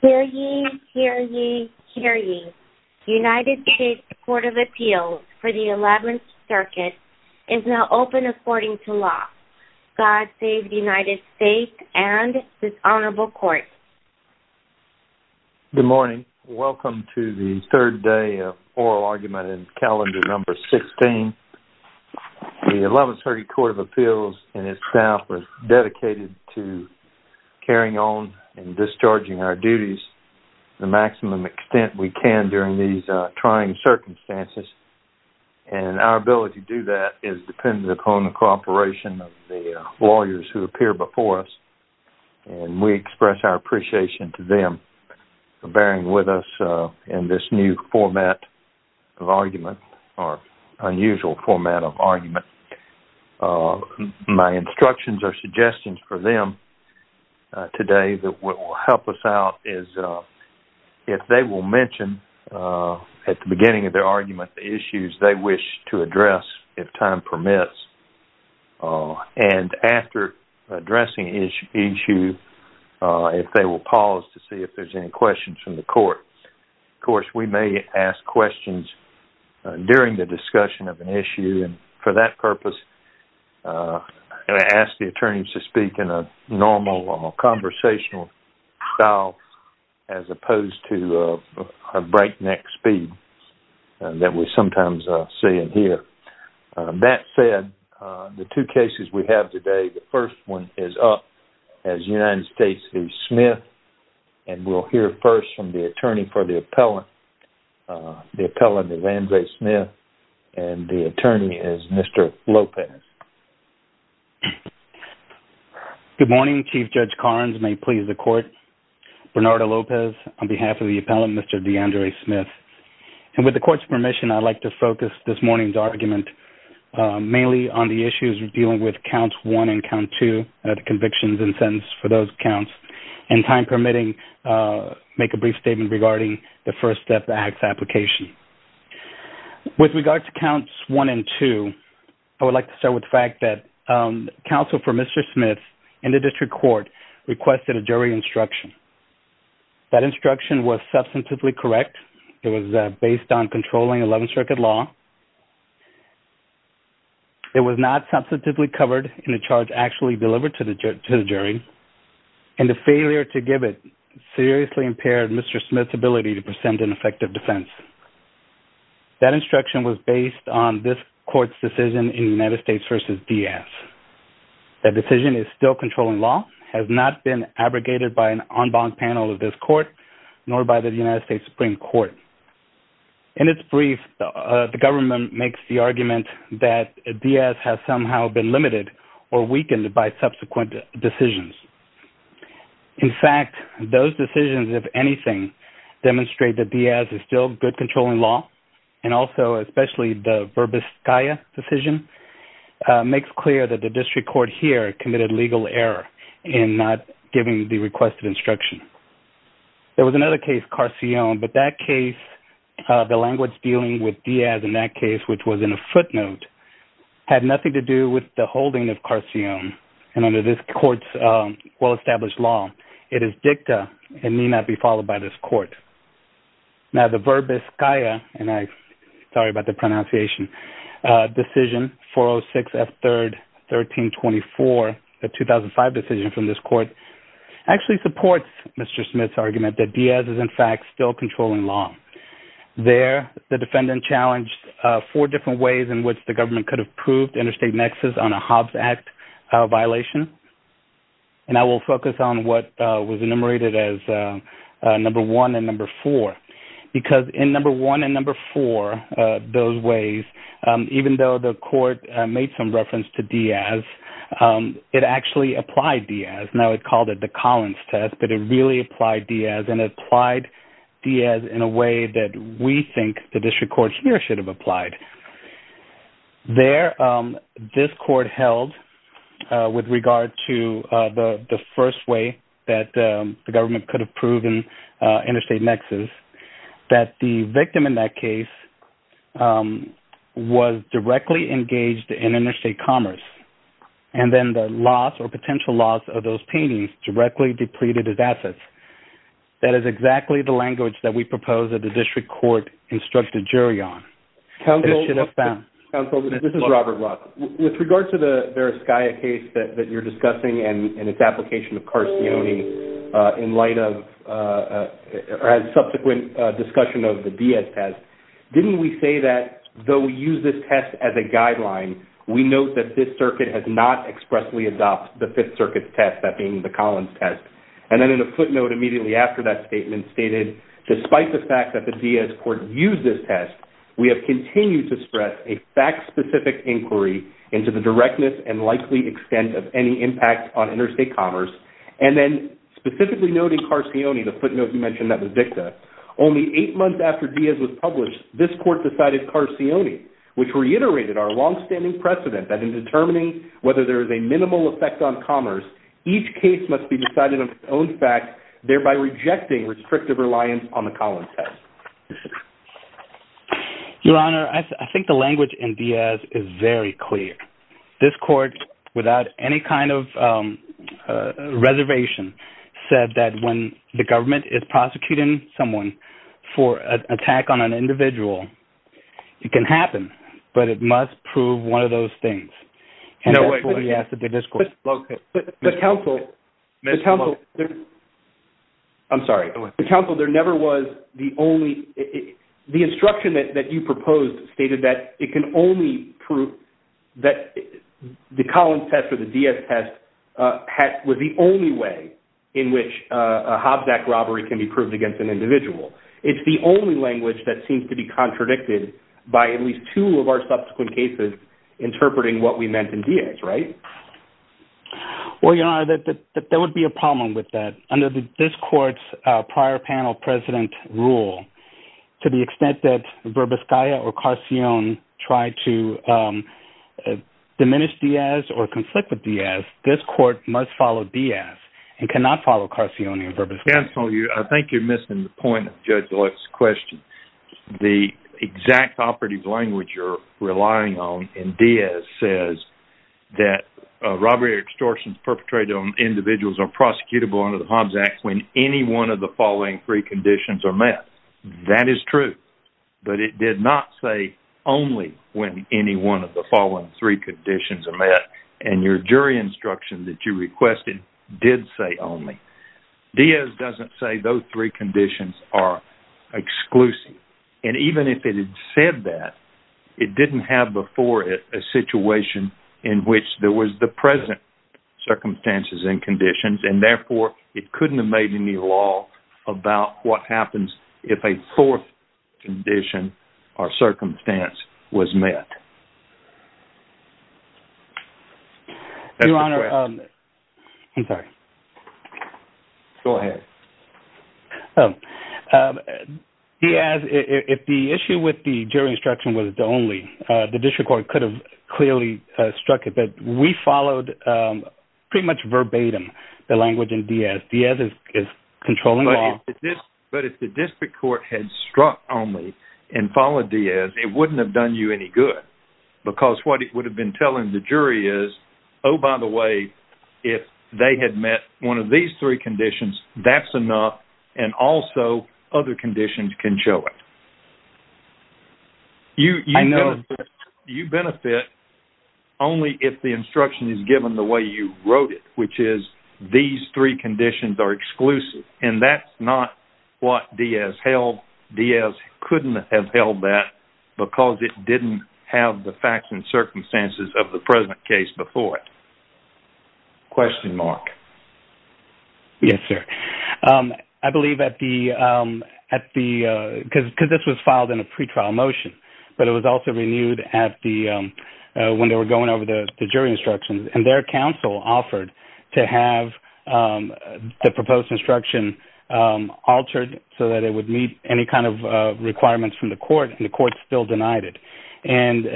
Hear ye, hear ye, hear ye. United States Court of Appeals for the 11th Circuit is now open according to law. God save the United States and this honorable court. Good morning. Welcome to the third day of oral argument in calendar number 16. The 11th Circuit Court of Appeals and its staff is dedicated to carrying on and discharging our duties to the maximum extent we can during these trying circumstances. And our ability to do that is dependent upon the cooperation of the lawyers who appear before us. And we express our appreciation to them for bearing with us in this new format of argument or unusual format of argument. My instructions or suggestions for them today that will help us out is if they will mention at the beginning of their argument the issues they wish to address if time permits. And after addressing the issue, if they will pause to see if there's any questions from the court. Of course, we may ask questions during the discussion of an issue. And for that purpose, I ask the attorneys to speak in a normal conversational style as opposed to a breakneck speed that we sometimes see and hear. That said, the two cases we have today, the first one is up as United States v. Smith. And we'll hear first from the attorney for the appellant. The appellant is Andre Smith, and the attorney is Mr. Lopez. Good morning. Chief Judge Collins, may it please the court. Bernardo Lopez on behalf of the appellant, Mr. DeAndre Smith. And with the court's permission, I'd like to focus this morning's argument mainly on the issues dealing with Counts 1 and Count 2, the convictions and sentence for those counts. And time permitting, make a brief statement regarding the First Step Act's application. With regard to Counts 1 and 2, I would like to start with the fact that counsel for Mr. Smith in the district court requested a jury instruction. That instruction was substantively correct. It was based on controlling 11th Circuit law. It was not substantively covered in the charge actually delivered to the jury. And the failure to give it seriously impaired Mr. Smith's ability to present an effective defense. That instruction was based on this court's decision in United States v. Diaz. That decision is still controlling law, has not been abrogated by an en banc panel of this court, nor by the United States Supreme Court. In its brief, the government makes the argument that Diaz has somehow been limited or weakened by subsequent decisions. In fact, those decisions, if anything, demonstrate that Diaz is still good controlling law. And also, especially the verbis caia decision makes clear that the district court here committed legal error in not giving the requested instruction. There was another case, Carcione, but that case, the language dealing with Diaz in that case, which was in a footnote, had nothing to do with the holding of Carcione. And under this court's well-established law, it is dicta and need not be followed by this court. Now, the verbis caia, and I'm sorry about the pronunciation, decision 406 F. 3rd, 1324, the 2005 decision from this court, actually supports Mr. Smith's argument that Diaz is, in fact, still controlling law. There, the defendant challenged four different ways in which the government could have proved interstate nexus on a Hobbs Act violation. And I will focus on what was enumerated as number one and number four. Because in number one and number four, those ways, even though the court made some reference to Diaz, it actually applied Diaz. Now, it called it the Collins test, but it really applied Diaz. And it applied Diaz in a way that we think the district court here should have applied. There, this court held with regard to the first way that the government could have proven interstate nexus, that the victim in that case was directly engaged in interstate commerce. And then the loss or potential loss of those paintings directly depleted his assets. That is exactly the language that we propose that the district court instruct a jury on. Counsel, this is Robert Roth. With regard to the Veriscaia case that you're discussing and its application of Carcione in light of subsequent discussion of the Diaz test, didn't we say that though we use this test as a guideline, we note that this circuit has not expressly adopted the Fifth Circuit's test, that being the Collins test? And then in a footnote immediately after that statement stated, despite the fact that the Diaz court used this test, we have continued to express a fact-specific inquiry into the directness and likely extent of any impact on interstate commerce. And then specifically noting Carcione, the footnote you mentioned that was dicta, only eight months after Diaz was published, this court decided Carcione, which reiterated our longstanding precedent that in determining whether there is a minimal effect on commerce, each case must be decided on its own fact, thereby rejecting restrictive reliance on the Collins test. Your Honor, I think the language in Diaz is very clear. This court, without any kind of reservation, said that when the government is prosecuting someone for an attack on an individual, it can happen, but it must prove one of those things. But counsel, there never was the only – the instruction that you proposed stated that it can only prove that the Collins test or the Diaz test was the only way in which a Hobsack robbery can be proved against an individual. It's the only language that seems to be contradicted by at least two of our subsequent cases interpreting what we meant in Diaz, right? Well, Your Honor, there would be a problem with that. Under this court's prior panel precedent rule, to the extent that Verbiskaya or Carcione tried to diminish Diaz or conflict with Diaz, this court must follow Diaz and cannot follow Carcione or Verbiskaya. Counsel, I think you're missing the point of Judge Lutz's question. The exact operative language you're relying on in Diaz says that robbery or extortion perpetrated on individuals are prosecutable under the Hobsack when any one of the following three conditions are met. That is true, but it did not say only when any one of the following three conditions are met, and your jury instruction that you requested did say only. Diaz doesn't say those three conditions are exclusive, and even if it had said that, it didn't have before it a situation in which there was the present circumstances and conditions, and therefore it couldn't have made any law about what happens if a fourth condition or circumstance was met. Your Honor, I'm sorry. Go ahead. Diaz, if the issue with the jury instruction was the only, the district court could have clearly struck it, but we followed pretty much verbatim the language in Diaz. Diaz is controlling law. But if the district court had struck only and followed Diaz, it wouldn't have done you any good. Because what it would have been telling the jury is, oh, by the way, if they had met one of these three conditions, that's enough, and also other conditions can show it. I know. You benefit only if the instruction is given the way you wrote it, which is these three conditions are exclusive, and that's not what Diaz held. Therefore, Diaz couldn't have held that because it didn't have the facts and circumstances of the present case before it. Question, Mark. Yes, sir. I believe at the, because this was filed in a pretrial motion, but it was also renewed at the, when they were going over the jury instructions, and their counsel offered to have the proposed instruction altered so that it would meet any kind of requirements from the court, and the court still denied it. And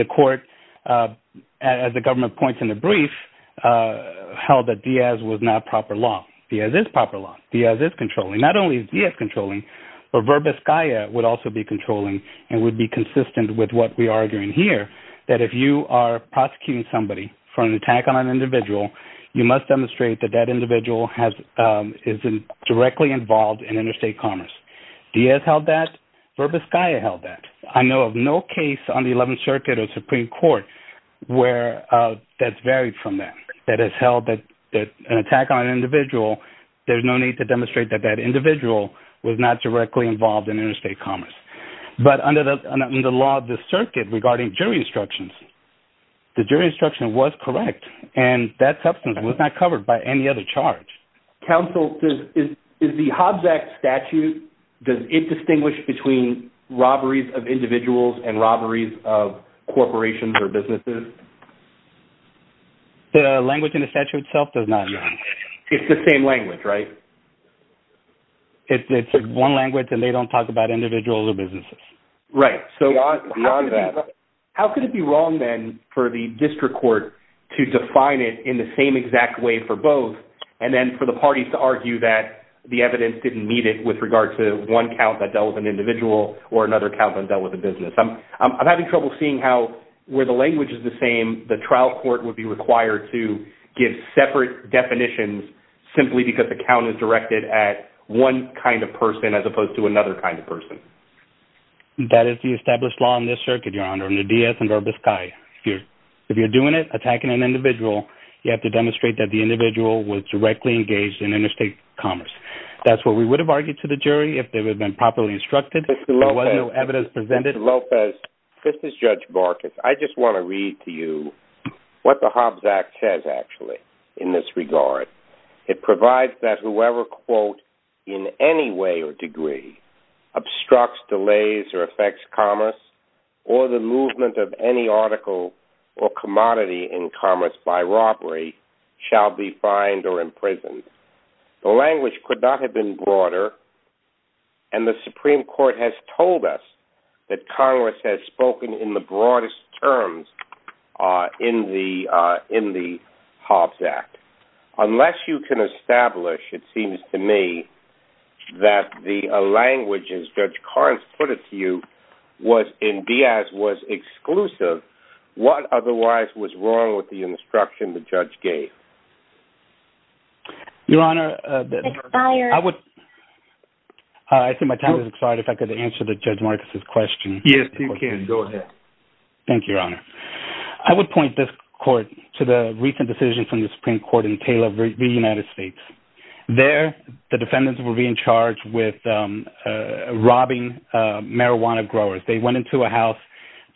the court, as the government points in the brief, held that Diaz was not proper law. Diaz is proper law. Diaz is controlling. Not only is Diaz controlling, but Verbas-Gaia would also be controlling and would be consistent with what we are doing here, that if you are prosecuting somebody for an attack on an individual, you must demonstrate that that individual is directly involved in interstate commerce. Diaz held that. Verbas-Gaia held that. I know of no case on the 11th Circuit or Supreme Court where that's varied from that, that has held that an attack on an individual, there's no need to demonstrate that that individual was not directly involved in interstate commerce. But under the law of the circuit regarding jury instructions, the jury instruction was correct, and that substance was not covered by any other charge. Counsel, is the Hobbs Act statute, does it distinguish between robberies of individuals and robberies of corporations or businesses? The language in the statute itself does not. It's the same language, right? It's one language and they don't talk about individuals or businesses. Right. Beyond that. How could it be wrong then for the district court to define it in the same exact way for both and then for the parties to argue that the evidence didn't meet it with regard to one count that dealt with an individual or another count that dealt with a business? I'm having trouble seeing how where the language is the same, the trial court would be required to give separate definitions simply because the count is directed at one kind of person as opposed to another kind of person. That is the established law in this circuit, Your Honor. If you're doing it, attacking an individual, you have to demonstrate that the individual was directly engaged in interstate commerce. That's what we would have argued to the jury if they would have been properly instructed. There was no evidence presented. Mr. Lopez, this is Judge Barkis. I just want to read to you what the Hobbs Act says, actually, in this regard. It provides that whoever, quote, in any way or degree obstructs, delays, or affects commerce or the movement of any article or commodity in commerce by robbery shall be fined or imprisoned. The language could not have been broader, and the Supreme Court has told us that Congress has spoken in the broadest terms in the Hobbs Act. Unless you can establish, it seems to me, that the language, as Judge Carnes put it to you, was in Diaz was exclusive, what otherwise was wrong with the instruction the judge gave? Your Honor, I think my time has expired. If I could answer Judge Barkis' question. Yes, you can. Go ahead. Thank you, Your Honor. I would point this court to the recent decision from the Supreme Court in Taylor v. United States. There, the defendants were being charged with robbing marijuana growers. They went into a house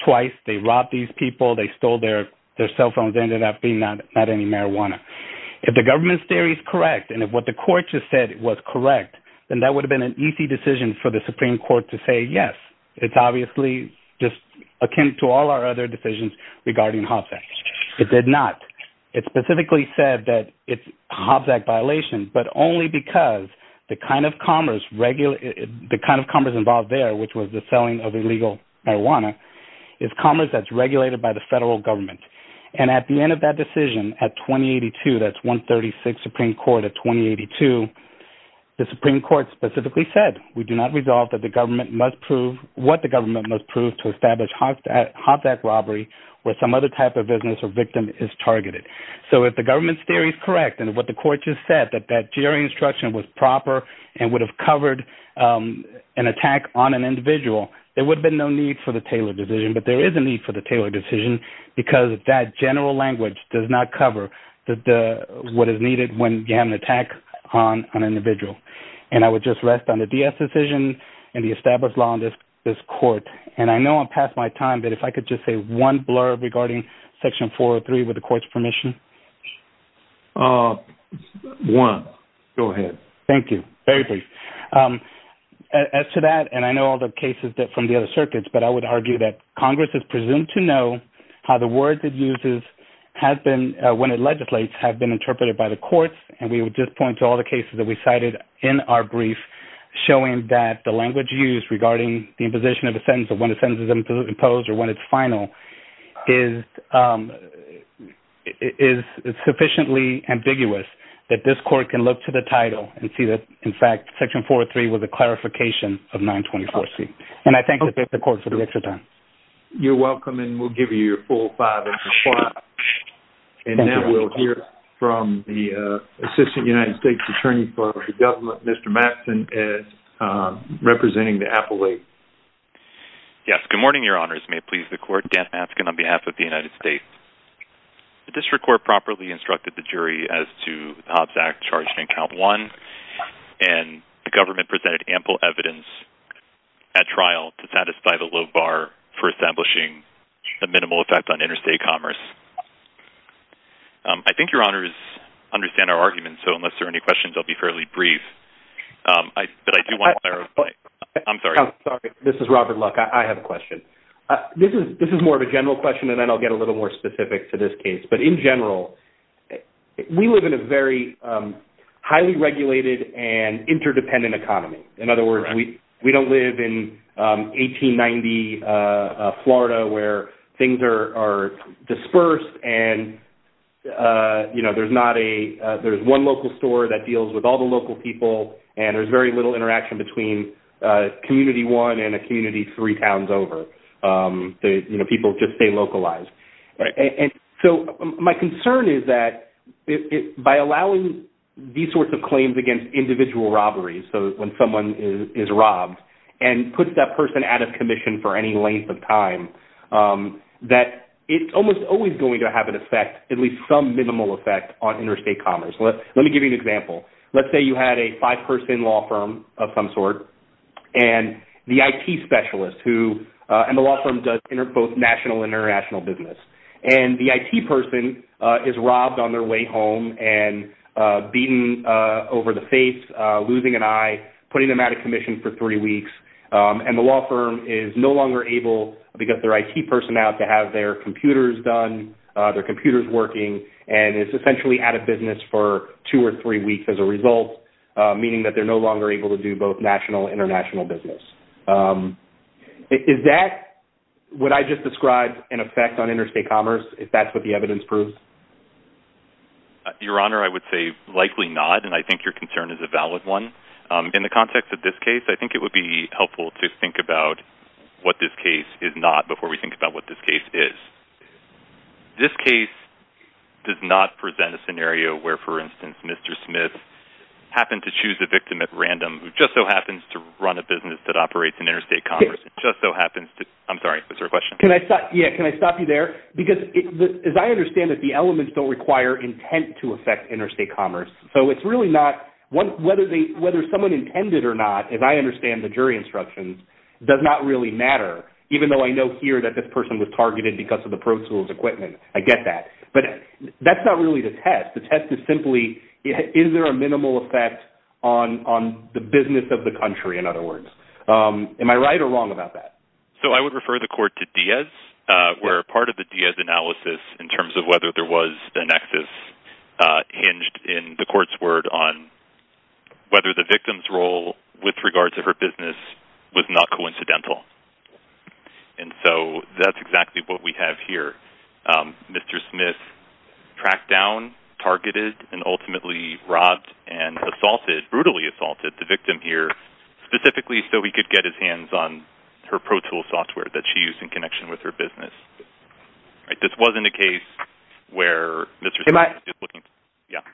twice. They robbed these people. They stole their cell phones. They ended up being not any marijuana. If the government's theory is correct, and if what the court just said was correct, then that would have been an easy decision for the Supreme Court to say yes. It's obviously just akin to all our other decisions regarding Hobbs Act. It did not. It specifically said that it's a Hobbs Act violation, but only because the kind of commerce involved there, which was the selling of illegal marijuana, is commerce that's regulated by the federal government. And at the end of that decision, at 2082, that's 136 Supreme Court, at 2082, the Supreme Court specifically said, we do not resolve what the government must prove to establish Hobbs Act robbery where some other type of business or victim is targeted. So if the government's theory is correct and what the court just said, that that jury instruction was proper and would have covered an attack on an individual, there would have been no need for the Taylor decision. But there is a need for the Taylor decision because that general language does not cover what is needed when you have an attack on an individual. And I would just rest on the DS decision and the established law in this court. And I know I'm past my time, but if I could just say one blurb regarding Section 403, with the court's permission. One. Go ahead. Thank you. Very brief. As to that, and I know all the cases from the other circuits, but I would argue that Congress is presumed to know how the words it uses when it legislates have been interpreted by the courts. And we would just point to all the cases that we cited in our brief showing that the language used regarding the imposition of a sentence or when a sentence is imposed or when it's final is sufficiently ambiguous that this court can look to the title and see that, in fact, Section 403 was a clarification of 924C. And I thank the court for the extra time. You're welcome, and we'll give you your full five minutes. And then we'll hear from the Assistant United States Attorney for the Government, Mr. Matson, as representing the appellate. Yes. Good morning, Your Honors. May it please the court, Dan Matson on behalf of the United States. The district court properly instructed the jury as to the Hobbs Act charged in Count I, and the government presented ample evidence at trial to satisfy the low bar for establishing a minimal effect on interstate commerce. I think Your Honors understand our argument, so unless there are any questions, I'll be fairly brief. But I do want to clarify. I'm sorry. I'm sorry. This is Robert Luck. I have a question. This is more of a general question, and then I'll get a little more specific to this case. But in general, we live in a very highly regulated and interdependent economy. In other words, we don't live in 1890 Florida where things are dispersed and there's one local store that deals with all the local people, and there's very little interaction between community one and a community three towns over. You know, people just stay localized. And so my concern is that by allowing these sorts of claims against individual robberies, so when someone is robbed, and puts that person out of commission for any length of time, that it's almost always going to have an effect, at least some minimal effect on interstate commerce. Let me give you an example. Let's say you had a five-person law firm of some sort, and the IT specialist who, and the law firm does both national and international business, and the IT person is robbed on their way home and beaten over the face, losing an eye, putting them out of commission for three weeks, and the law firm is no longer able to get their IT person out to have their computers done, their computers working, and is essentially out of business for two or three weeks as a result, meaning that they're no longer able to do both national and international business. Is that what I just described an effect on interstate commerce, if that's what the evidence proves? Your Honor, I would say likely not, and I think your concern is a valid one. In the context of this case, I think it would be helpful to think about what this case is not before we think about what this case is. This case does not present a scenario where, for instance, Mr. Smith happened to choose a victim at random who just so happens to run a business that operates in interstate commerce, just so happens to, I'm sorry, was there a question? Can I stop you there? Because as I understand it, the elements don't require intent to affect interstate commerce, so it's really not, whether someone intended or not, as I understand the jury instructions, does not really matter, even though I know here that this person was targeted because of the prosul's equipment. I get that. But that's not really the test. The test is simply is there a minimal effect on the business of the country, in other words? Am I right or wrong about that? So I would refer the court to Diaz, where part of the Diaz analysis in terms of whether there was a nexus hinged in the court's word on whether the victim's role with regards to her business was not coincidental. And so that's exactly what we have here. Mr. Smith tracked down, targeted, and ultimately robbed and assaulted, brutally assaulted, the victim here specifically so he could get his hands on her ProTool software that she used in connection with her business. This wasn't a case where Mr. Smith was just looking to…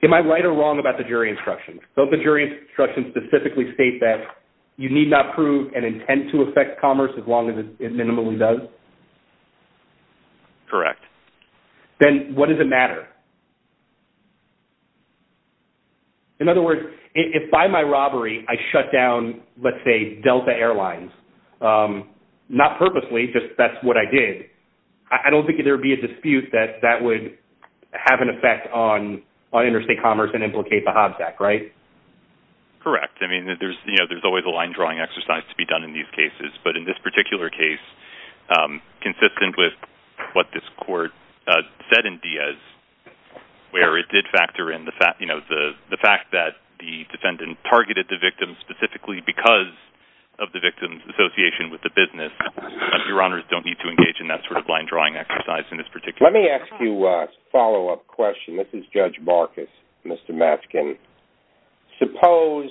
Am I right or wrong about the jury instructions? Don't the jury instructions specifically state that you need not prove an intent to affect commerce as long as it minimally does? Correct. Then what does it matter? In other words, if by my robbery I shut down, let's say, Delta Airlines, not purposely, just that's what I did, I don't think there would be a dispute that that would have an effect on interstate commerce and implicate the Hobbs Act, right? Correct. I mean, there's always a line-drawing exercise to be done in these cases, but in this particular case, consistent with what this court said in Diaz, where it did factor in the fact that the defendant targeted the victim specifically because of the victim's association with the business, your honors don't need to engage in that sort of line-drawing exercise in this particular case. Let me ask you a follow-up question. This is Judge Marcus. Mr. Matzkin, suppose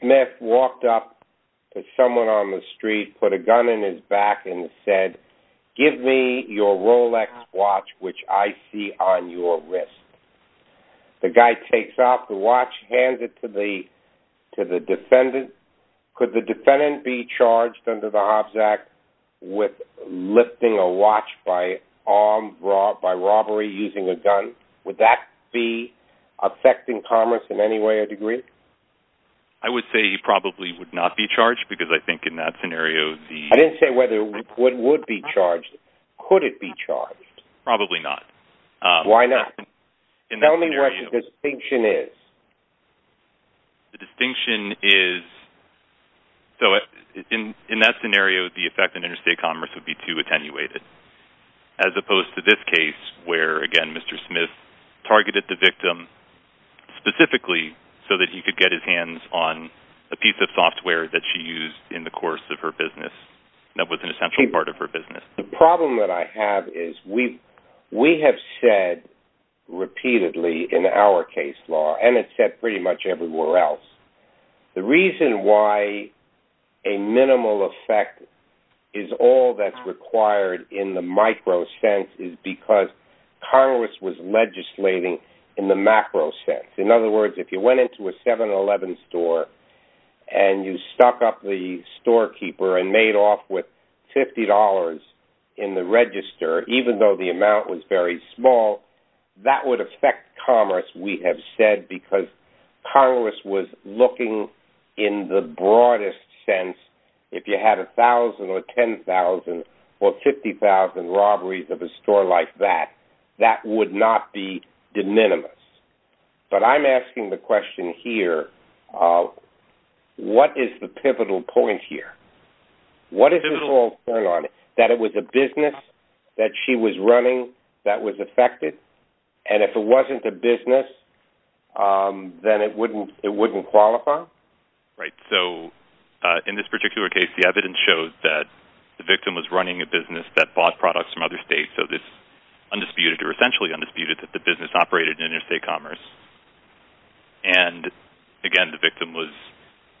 Smith walked up to someone on the street, put a gun in his back, and said, give me your Rolex watch, which I see on your wrist. The guy takes off the watch, hands it to the defendant. Could the defendant be charged under the Hobbs Act with lifting a watch by robbery using a gun? Would that be affecting commerce in any way or degree? I would say he probably would not be charged, because I think in that scenario the – I didn't say whether it would be charged. Could it be charged? Probably not. Why not? Tell me what his distinction is. The distinction is, so in that scenario, the effect on interstate commerce would be too attenuated, as opposed to this case where, again, Mr. Smith targeted the victim specifically so that he could get his hands on a piece of software that she used in the course of her business that was an essential part of her business. The problem that I have is we have said repeatedly in our case law, and it's said pretty much everywhere else, the reason why a minimal effect is all that's required in the micro sense is because Congress was legislating in the macro sense. In other words, if you went into a 7-Eleven store and you stuck up the storekeeper and made off with $50 in the register, even though the amount was very small, that would affect commerce, we have said, because Congress was looking in the broadest sense. If you had 1,000 or 10,000 or 50,000 robberies of a store like that, that would not be de minimis. But I'm asking the question here, what is the pivotal point here? What is this all going on? That it was a business that she was running that was affected? And if it wasn't a business, then it wouldn't qualify? Right. So in this particular case, the evidence shows that the victim was running a business that bought products from other states. So it's undisputed or essentially undisputed that the business operated in interstate commerce. And, again, the victim was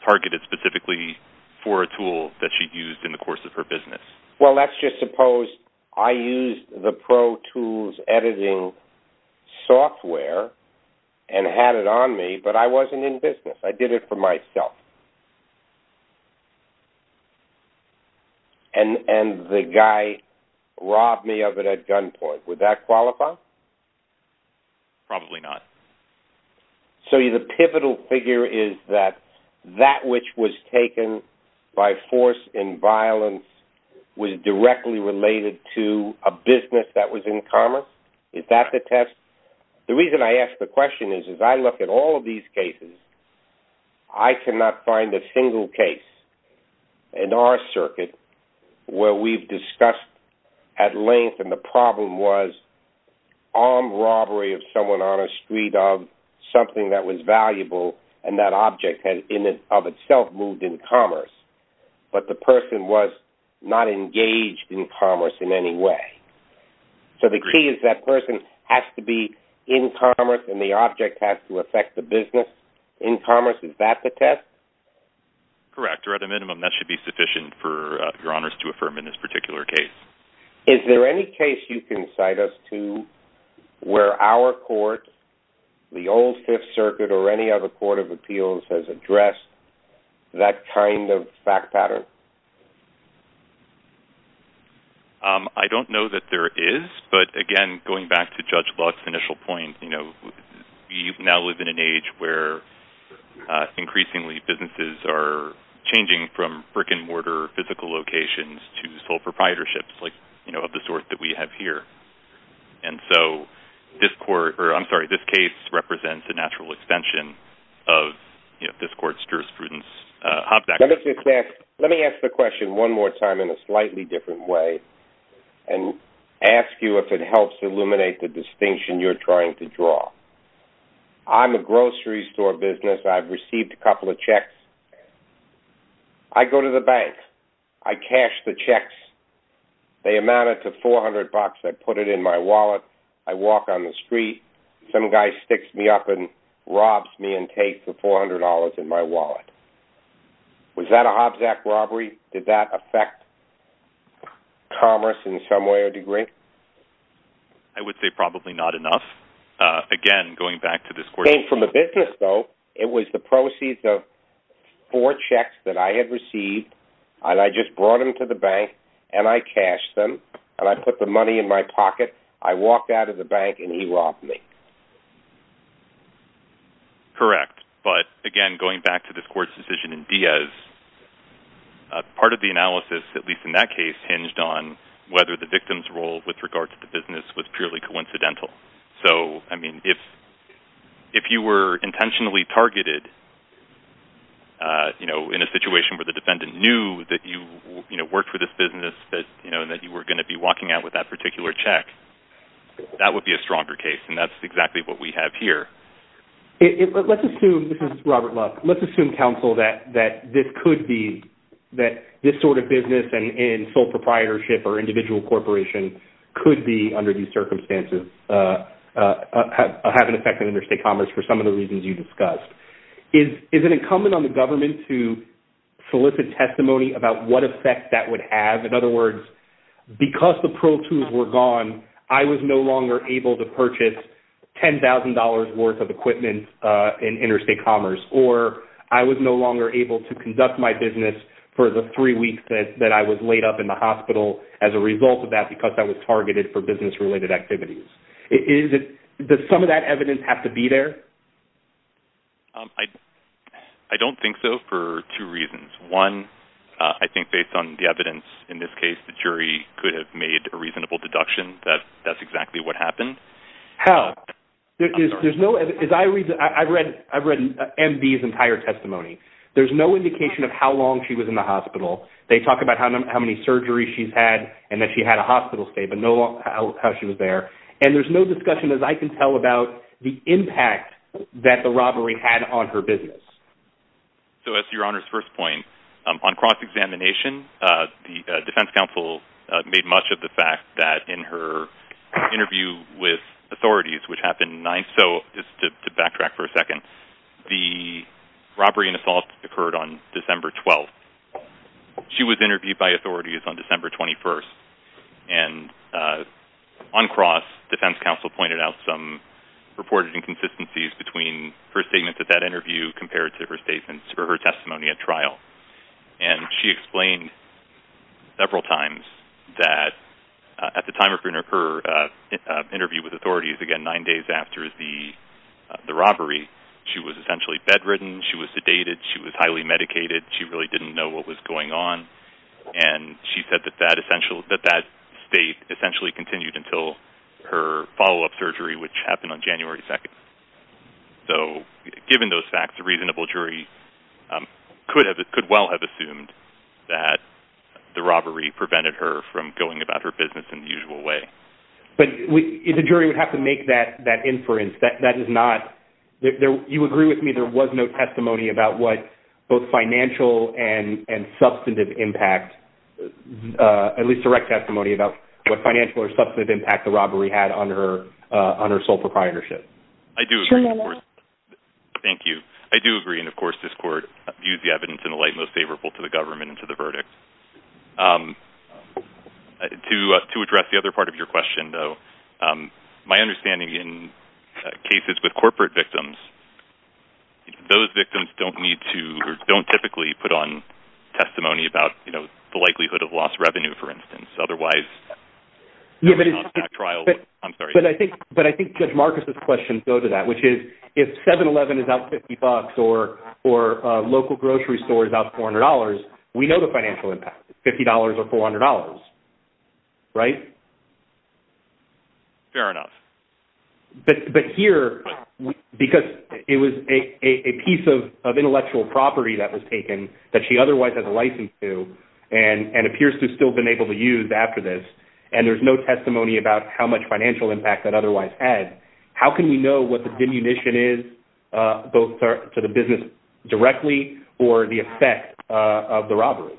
targeted specifically for a tool that she used in the course of her business. Well, let's just suppose I used the Pro Tools editing software and had it on me, but I wasn't in business. I did it for myself. And the guy robbed me of it at gunpoint. Would that qualify? Probably not. So the pivotal figure is that that which was taken by force and violence was directly related to a business that was in commerce? Is that the test? The reason I ask the question is, as I look at all of these cases, I cannot find a single case in our circuit where we've discussed at length, and the problem was armed robbery of someone on a street of something that was valuable and that object of itself moved in commerce, but the person was not engaged in commerce in any way. So the key is that person has to be in commerce and the object has to affect the business. In commerce, is that the test? Correct, or at a minimum that should be sufficient for your honors to affirm in this particular case. Is there any case you can cite us to where our court, the old Fifth Circuit, or any other court of appeals has addressed that kind of fact pattern? I don't know that there is, but again, going back to Judge Luck's initial point, we now live in an age where increasingly businesses are changing from brick-and-mortar physical locations to sole proprietorships of the sort that we have here. So this case represents a natural extension of this court's jurisprudence. Let me ask the question one more time in a slightly different way and ask you if it helps to illuminate the distinction you're trying to draw. I'm a grocery store business. I've received a couple of checks. I go to the bank. I cash the checks. They amounted to $400. I put it in my wallet. I walk on the street. Some guy sticks me up and robs me and takes the $400 in my wallet. Was that a Hobbs Act robbery? Did that affect commerce in some way or degree? I would say probably not enough. Again, going back to this court's decision. It came from a business, though. It was the proceeds of four checks that I had received, and I just brought them to the bank, and I cashed them, and I put the money in my pocket. I walked out of the bank, and he robbed me. Correct, but again, going back to this court's decision in Diaz, part of the analysis, at least in that case, hinged on whether the victim's role with regard to the business was purely coincidental. If you were intentionally targeted in a situation where the defendant knew that you worked for this business and that you were going to be walking out with that particular check, that would be a stronger case, and that's exactly what we have here. This is Robert Luck. Let's assume, counsel, that this sort of business in sole proprietorship or individual corporation could have an effect on interstate commerce for some of the reasons you discussed. Is it incumbent on the government to solicit testimony about what effect that would have? In other words, because the pro tools were gone, I was no longer able to purchase $10,000 worth of equipment in interstate commerce, or I was no longer able to conduct my business for the three weeks that I was laid up in the hospital as a result of that because I was targeted for business-related activities. Does some of that evidence have to be there? I don't think so for two reasons. One, I think based on the evidence in this case, the jury could have made a reasonable deduction that that's exactly what happened. How? I've read MD's entire testimony. There's no indication of how long she was in the hospital. They talk about how many surgeries she's had and that she had a hospital stay, but no how she was there. And there's no discussion, as I can tell, about the impact that the robbery had on her business. So as to Your Honor's first point, on cross-examination, the defense counsel made much of the fact that in her interview with authorities, which happened nine-so, just to backtrack for a second, the robbery and assault occurred on December 12th. She was interviewed by authorities on December 21st, and on cross, defense counsel pointed out some reported inconsistencies between her statement at that interview compared to her testimony at trial. And she explained several times that at the time of her interview with authorities, again, nine days after the robbery, she was essentially bedridden, she was sedated, she was highly medicated, she really didn't know what was going on. And she said that that state essentially continued until her follow-up surgery, which happened on January 2nd. So given those facts, a reasonable jury could well have assumed that the robbery prevented her from going about her business in the usual way. But the jury would have to make that inference. That is not – you agree with me there was no testimony about what both financial and substantive impact, at least direct testimony about what financial or substantive impact the robbery had on her sole proprietorship? I do agree. Thank you. I do agree, and of course this court views the evidence in the light most favorable to the government and to the verdict. To address the other part of your question, though, my understanding in cases with corporate victims, those victims don't typically put on testimony about the likelihood of lost revenue, for instance. Yes, but I think Judge Marcus' questions go to that, which is if 7-Eleven is out 50 bucks or a local grocery store is out $400, we know the financial impact, $50 or $400, right? Fair enough. But here, because it was a piece of intellectual property that was taken that she otherwise has a license to and appears to have still been able to use after this, and there's no testimony about how much financial impact that otherwise had, how can we know what the diminution is, both to the business directly or the effect of the robbery?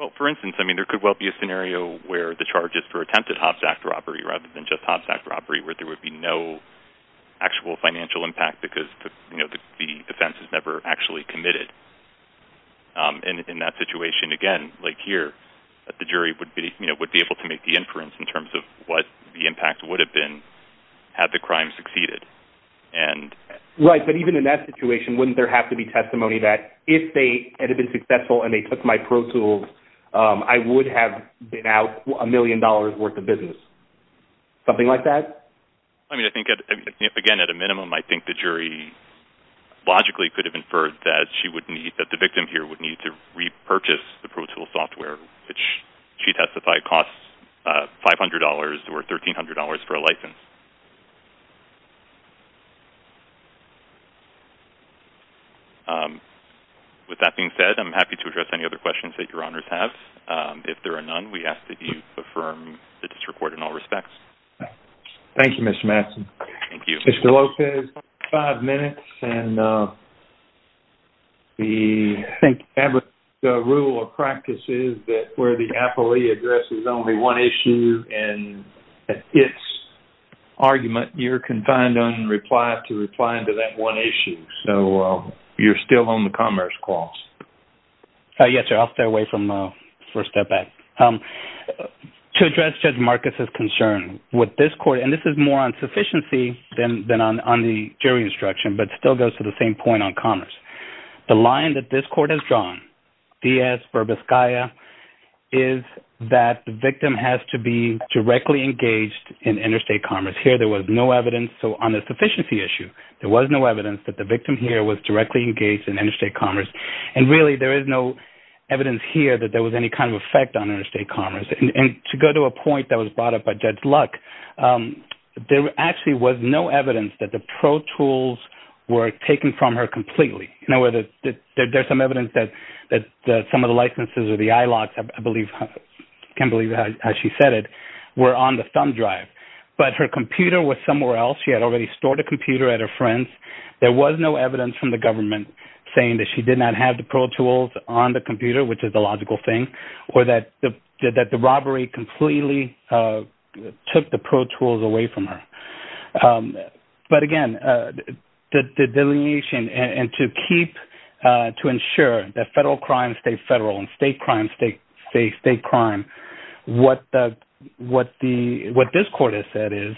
Well, for instance, I mean, there could well be a scenario where the charges for attempted Hobbs Act robbery rather than just Hobbs Act robbery where there would be no actual financial impact because the offense is never actually committed. And in that situation, again, like here, the jury would be able to make the inference in terms of what the impact would have been had the crime succeeded. Right, but even in that situation, wouldn't there have to be testimony that if they had been successful and they took my pro tools, I would have been out $1 million worth of business, something like that? I mean, I think, again, at a minimum, I think the jury logically could have inferred that the victim here would need to repurchase the pro tool software, which she testified costs $500 or $1,300 for a license. With that being said, I'm happy to address any other questions that your Honors have. If there are none, we ask that you affirm the disreport in all respects. Thank you, Mr. Madsen. Thank you. Mr. Lopez, five minutes. Thank you. The rule of practice is that where the appellee addresses only one issue and its argument, you're confined to reply to that one issue. So you're still on the commerce clause. Yes, sir. I'll stay away from the first step back. To address Judge Marcus's concern with this court, and this is more on sufficiency than on the jury instruction, but still goes to the same point on commerce, the line that this court has drawn, Diaz-Verbas-Gaia, is that the victim has to be directly engaged in interstate commerce. Here there was no evidence, so on the sufficiency issue, there was no evidence that the victim here was directly engaged in interstate commerce, and really there is no evidence here that there was any kind of effect on interstate commerce. And to go to a point that was brought up by Judge Luck, there actually was no evidence that the pro tools were taken from her completely. In other words, there's some evidence that some of the licenses or the I-locks, I can't believe how she said it, were on the thumb drive, but her computer was somewhere else. She had already stored a computer at her friend's. There was no evidence from the government saying that she did not have the pro tools on the computer, which is the logical thing, or that the robbery completely took the pro tools away from her. But again, the delineation, and to keep, to ensure that federal crime stays federal and state crime stays state crime, what this court has said is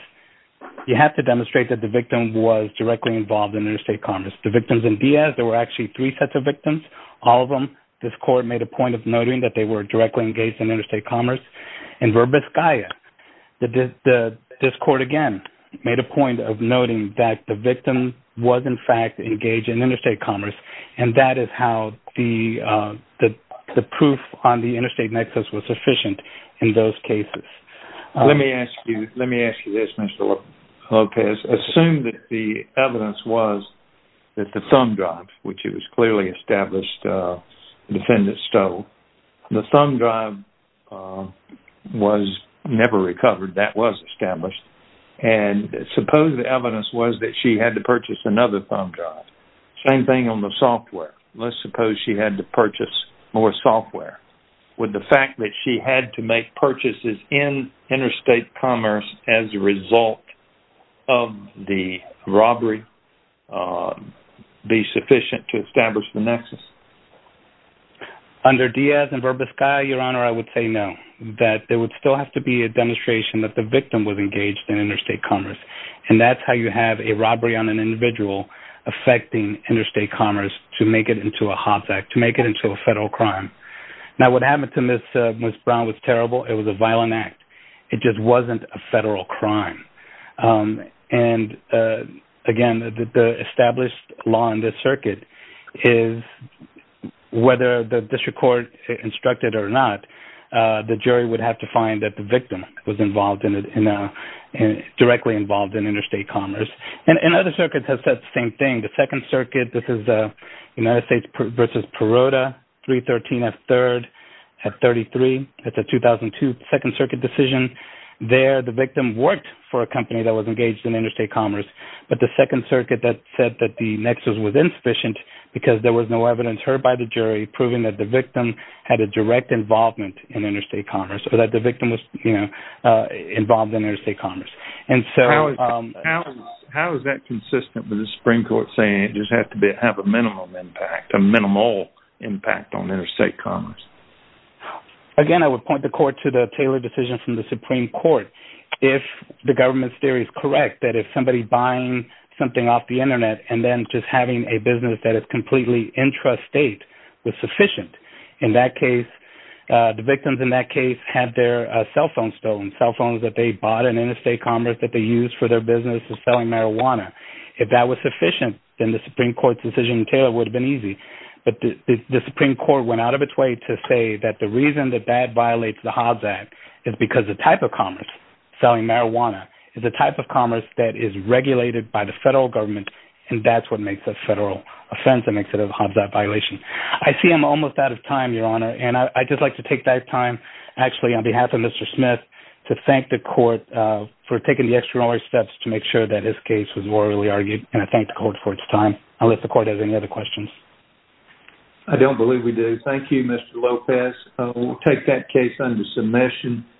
you have to demonstrate that the victim was directly involved in interstate commerce. The victims in Diaz, there were actually three sets of victims, all of them. This court made a point of noting that they were directly engaged in interstate commerce. In Verbis Calla, this court again made a point of noting that the victim was in fact engaged in interstate commerce, and that is how the proof on the interstate nexus was sufficient in those cases. Let me ask you this, Mr. Lopez. Let's assume that the evidence was that the thumb drive, which it was clearly established the defendant stole. The thumb drive was never recovered. That was established. And suppose the evidence was that she had to purchase another thumb drive. Same thing on the software. Let's suppose she had to purchase more software. Would the fact that she had to make purchases in interstate commerce as a result of the robbery be sufficient to establish the nexus? Under Diaz and Verbis Calla, Your Honor, I would say no, that there would still have to be a demonstration that the victim was engaged in interstate commerce, and that's how you have a robbery on an individual affecting interstate commerce to make it into a HOPS Act, to make it into a federal crime. Now, what happened to Ms. Brown was terrible. It was a violent act. It just wasn't a federal crime. And, again, the established law in this circuit is whether the district court instructed it or not, the jury would have to find that the victim was directly involved in interstate commerce. And other circuits have said the same thing. The Second Circuit, this is United States v. Perota, 313 F. 3rd at 33. That's a 2002 Second Circuit decision. There the victim worked for a company that was engaged in interstate commerce, but the Second Circuit said that the nexus was insufficient because there was no evidence heard by the jury proving that the victim had a direct involvement in interstate commerce, or that the victim was involved in interstate commerce. How is that consistent with the Supreme Court saying it just has to have a minimum impact, a minimal impact on interstate commerce? Again, I would point the Court to the Taylor decision from the Supreme Court. If the government's theory is correct, that if somebody buying something off the Internet and then just having a business that is completely intrastate was sufficient, in that case, the victims in that case had their cell phones stolen, cell phones that they bought in interstate commerce that they used for their business of selling marijuana. If that was sufficient, then the Supreme Court's decision in Taylor would have been easy. But the Supreme Court went out of its way to say that the reason that that violates the Hobbs Act is because the type of commerce, selling marijuana, is a type of commerce that is regulated by the federal government, and that's what makes a federal offense and makes it a Hobbs Act violation. I see I'm almost out of time, Your Honor, and I'd just like to take that time, actually, on behalf of Mr. Smith, to thank the Court for taking the extraordinary steps to make sure that this case was morally argued, and I thank the Court for its time. I'll let the Court have any other questions. I don't believe we do. Thank you, Mr. Lopez. We'll take that case under submission.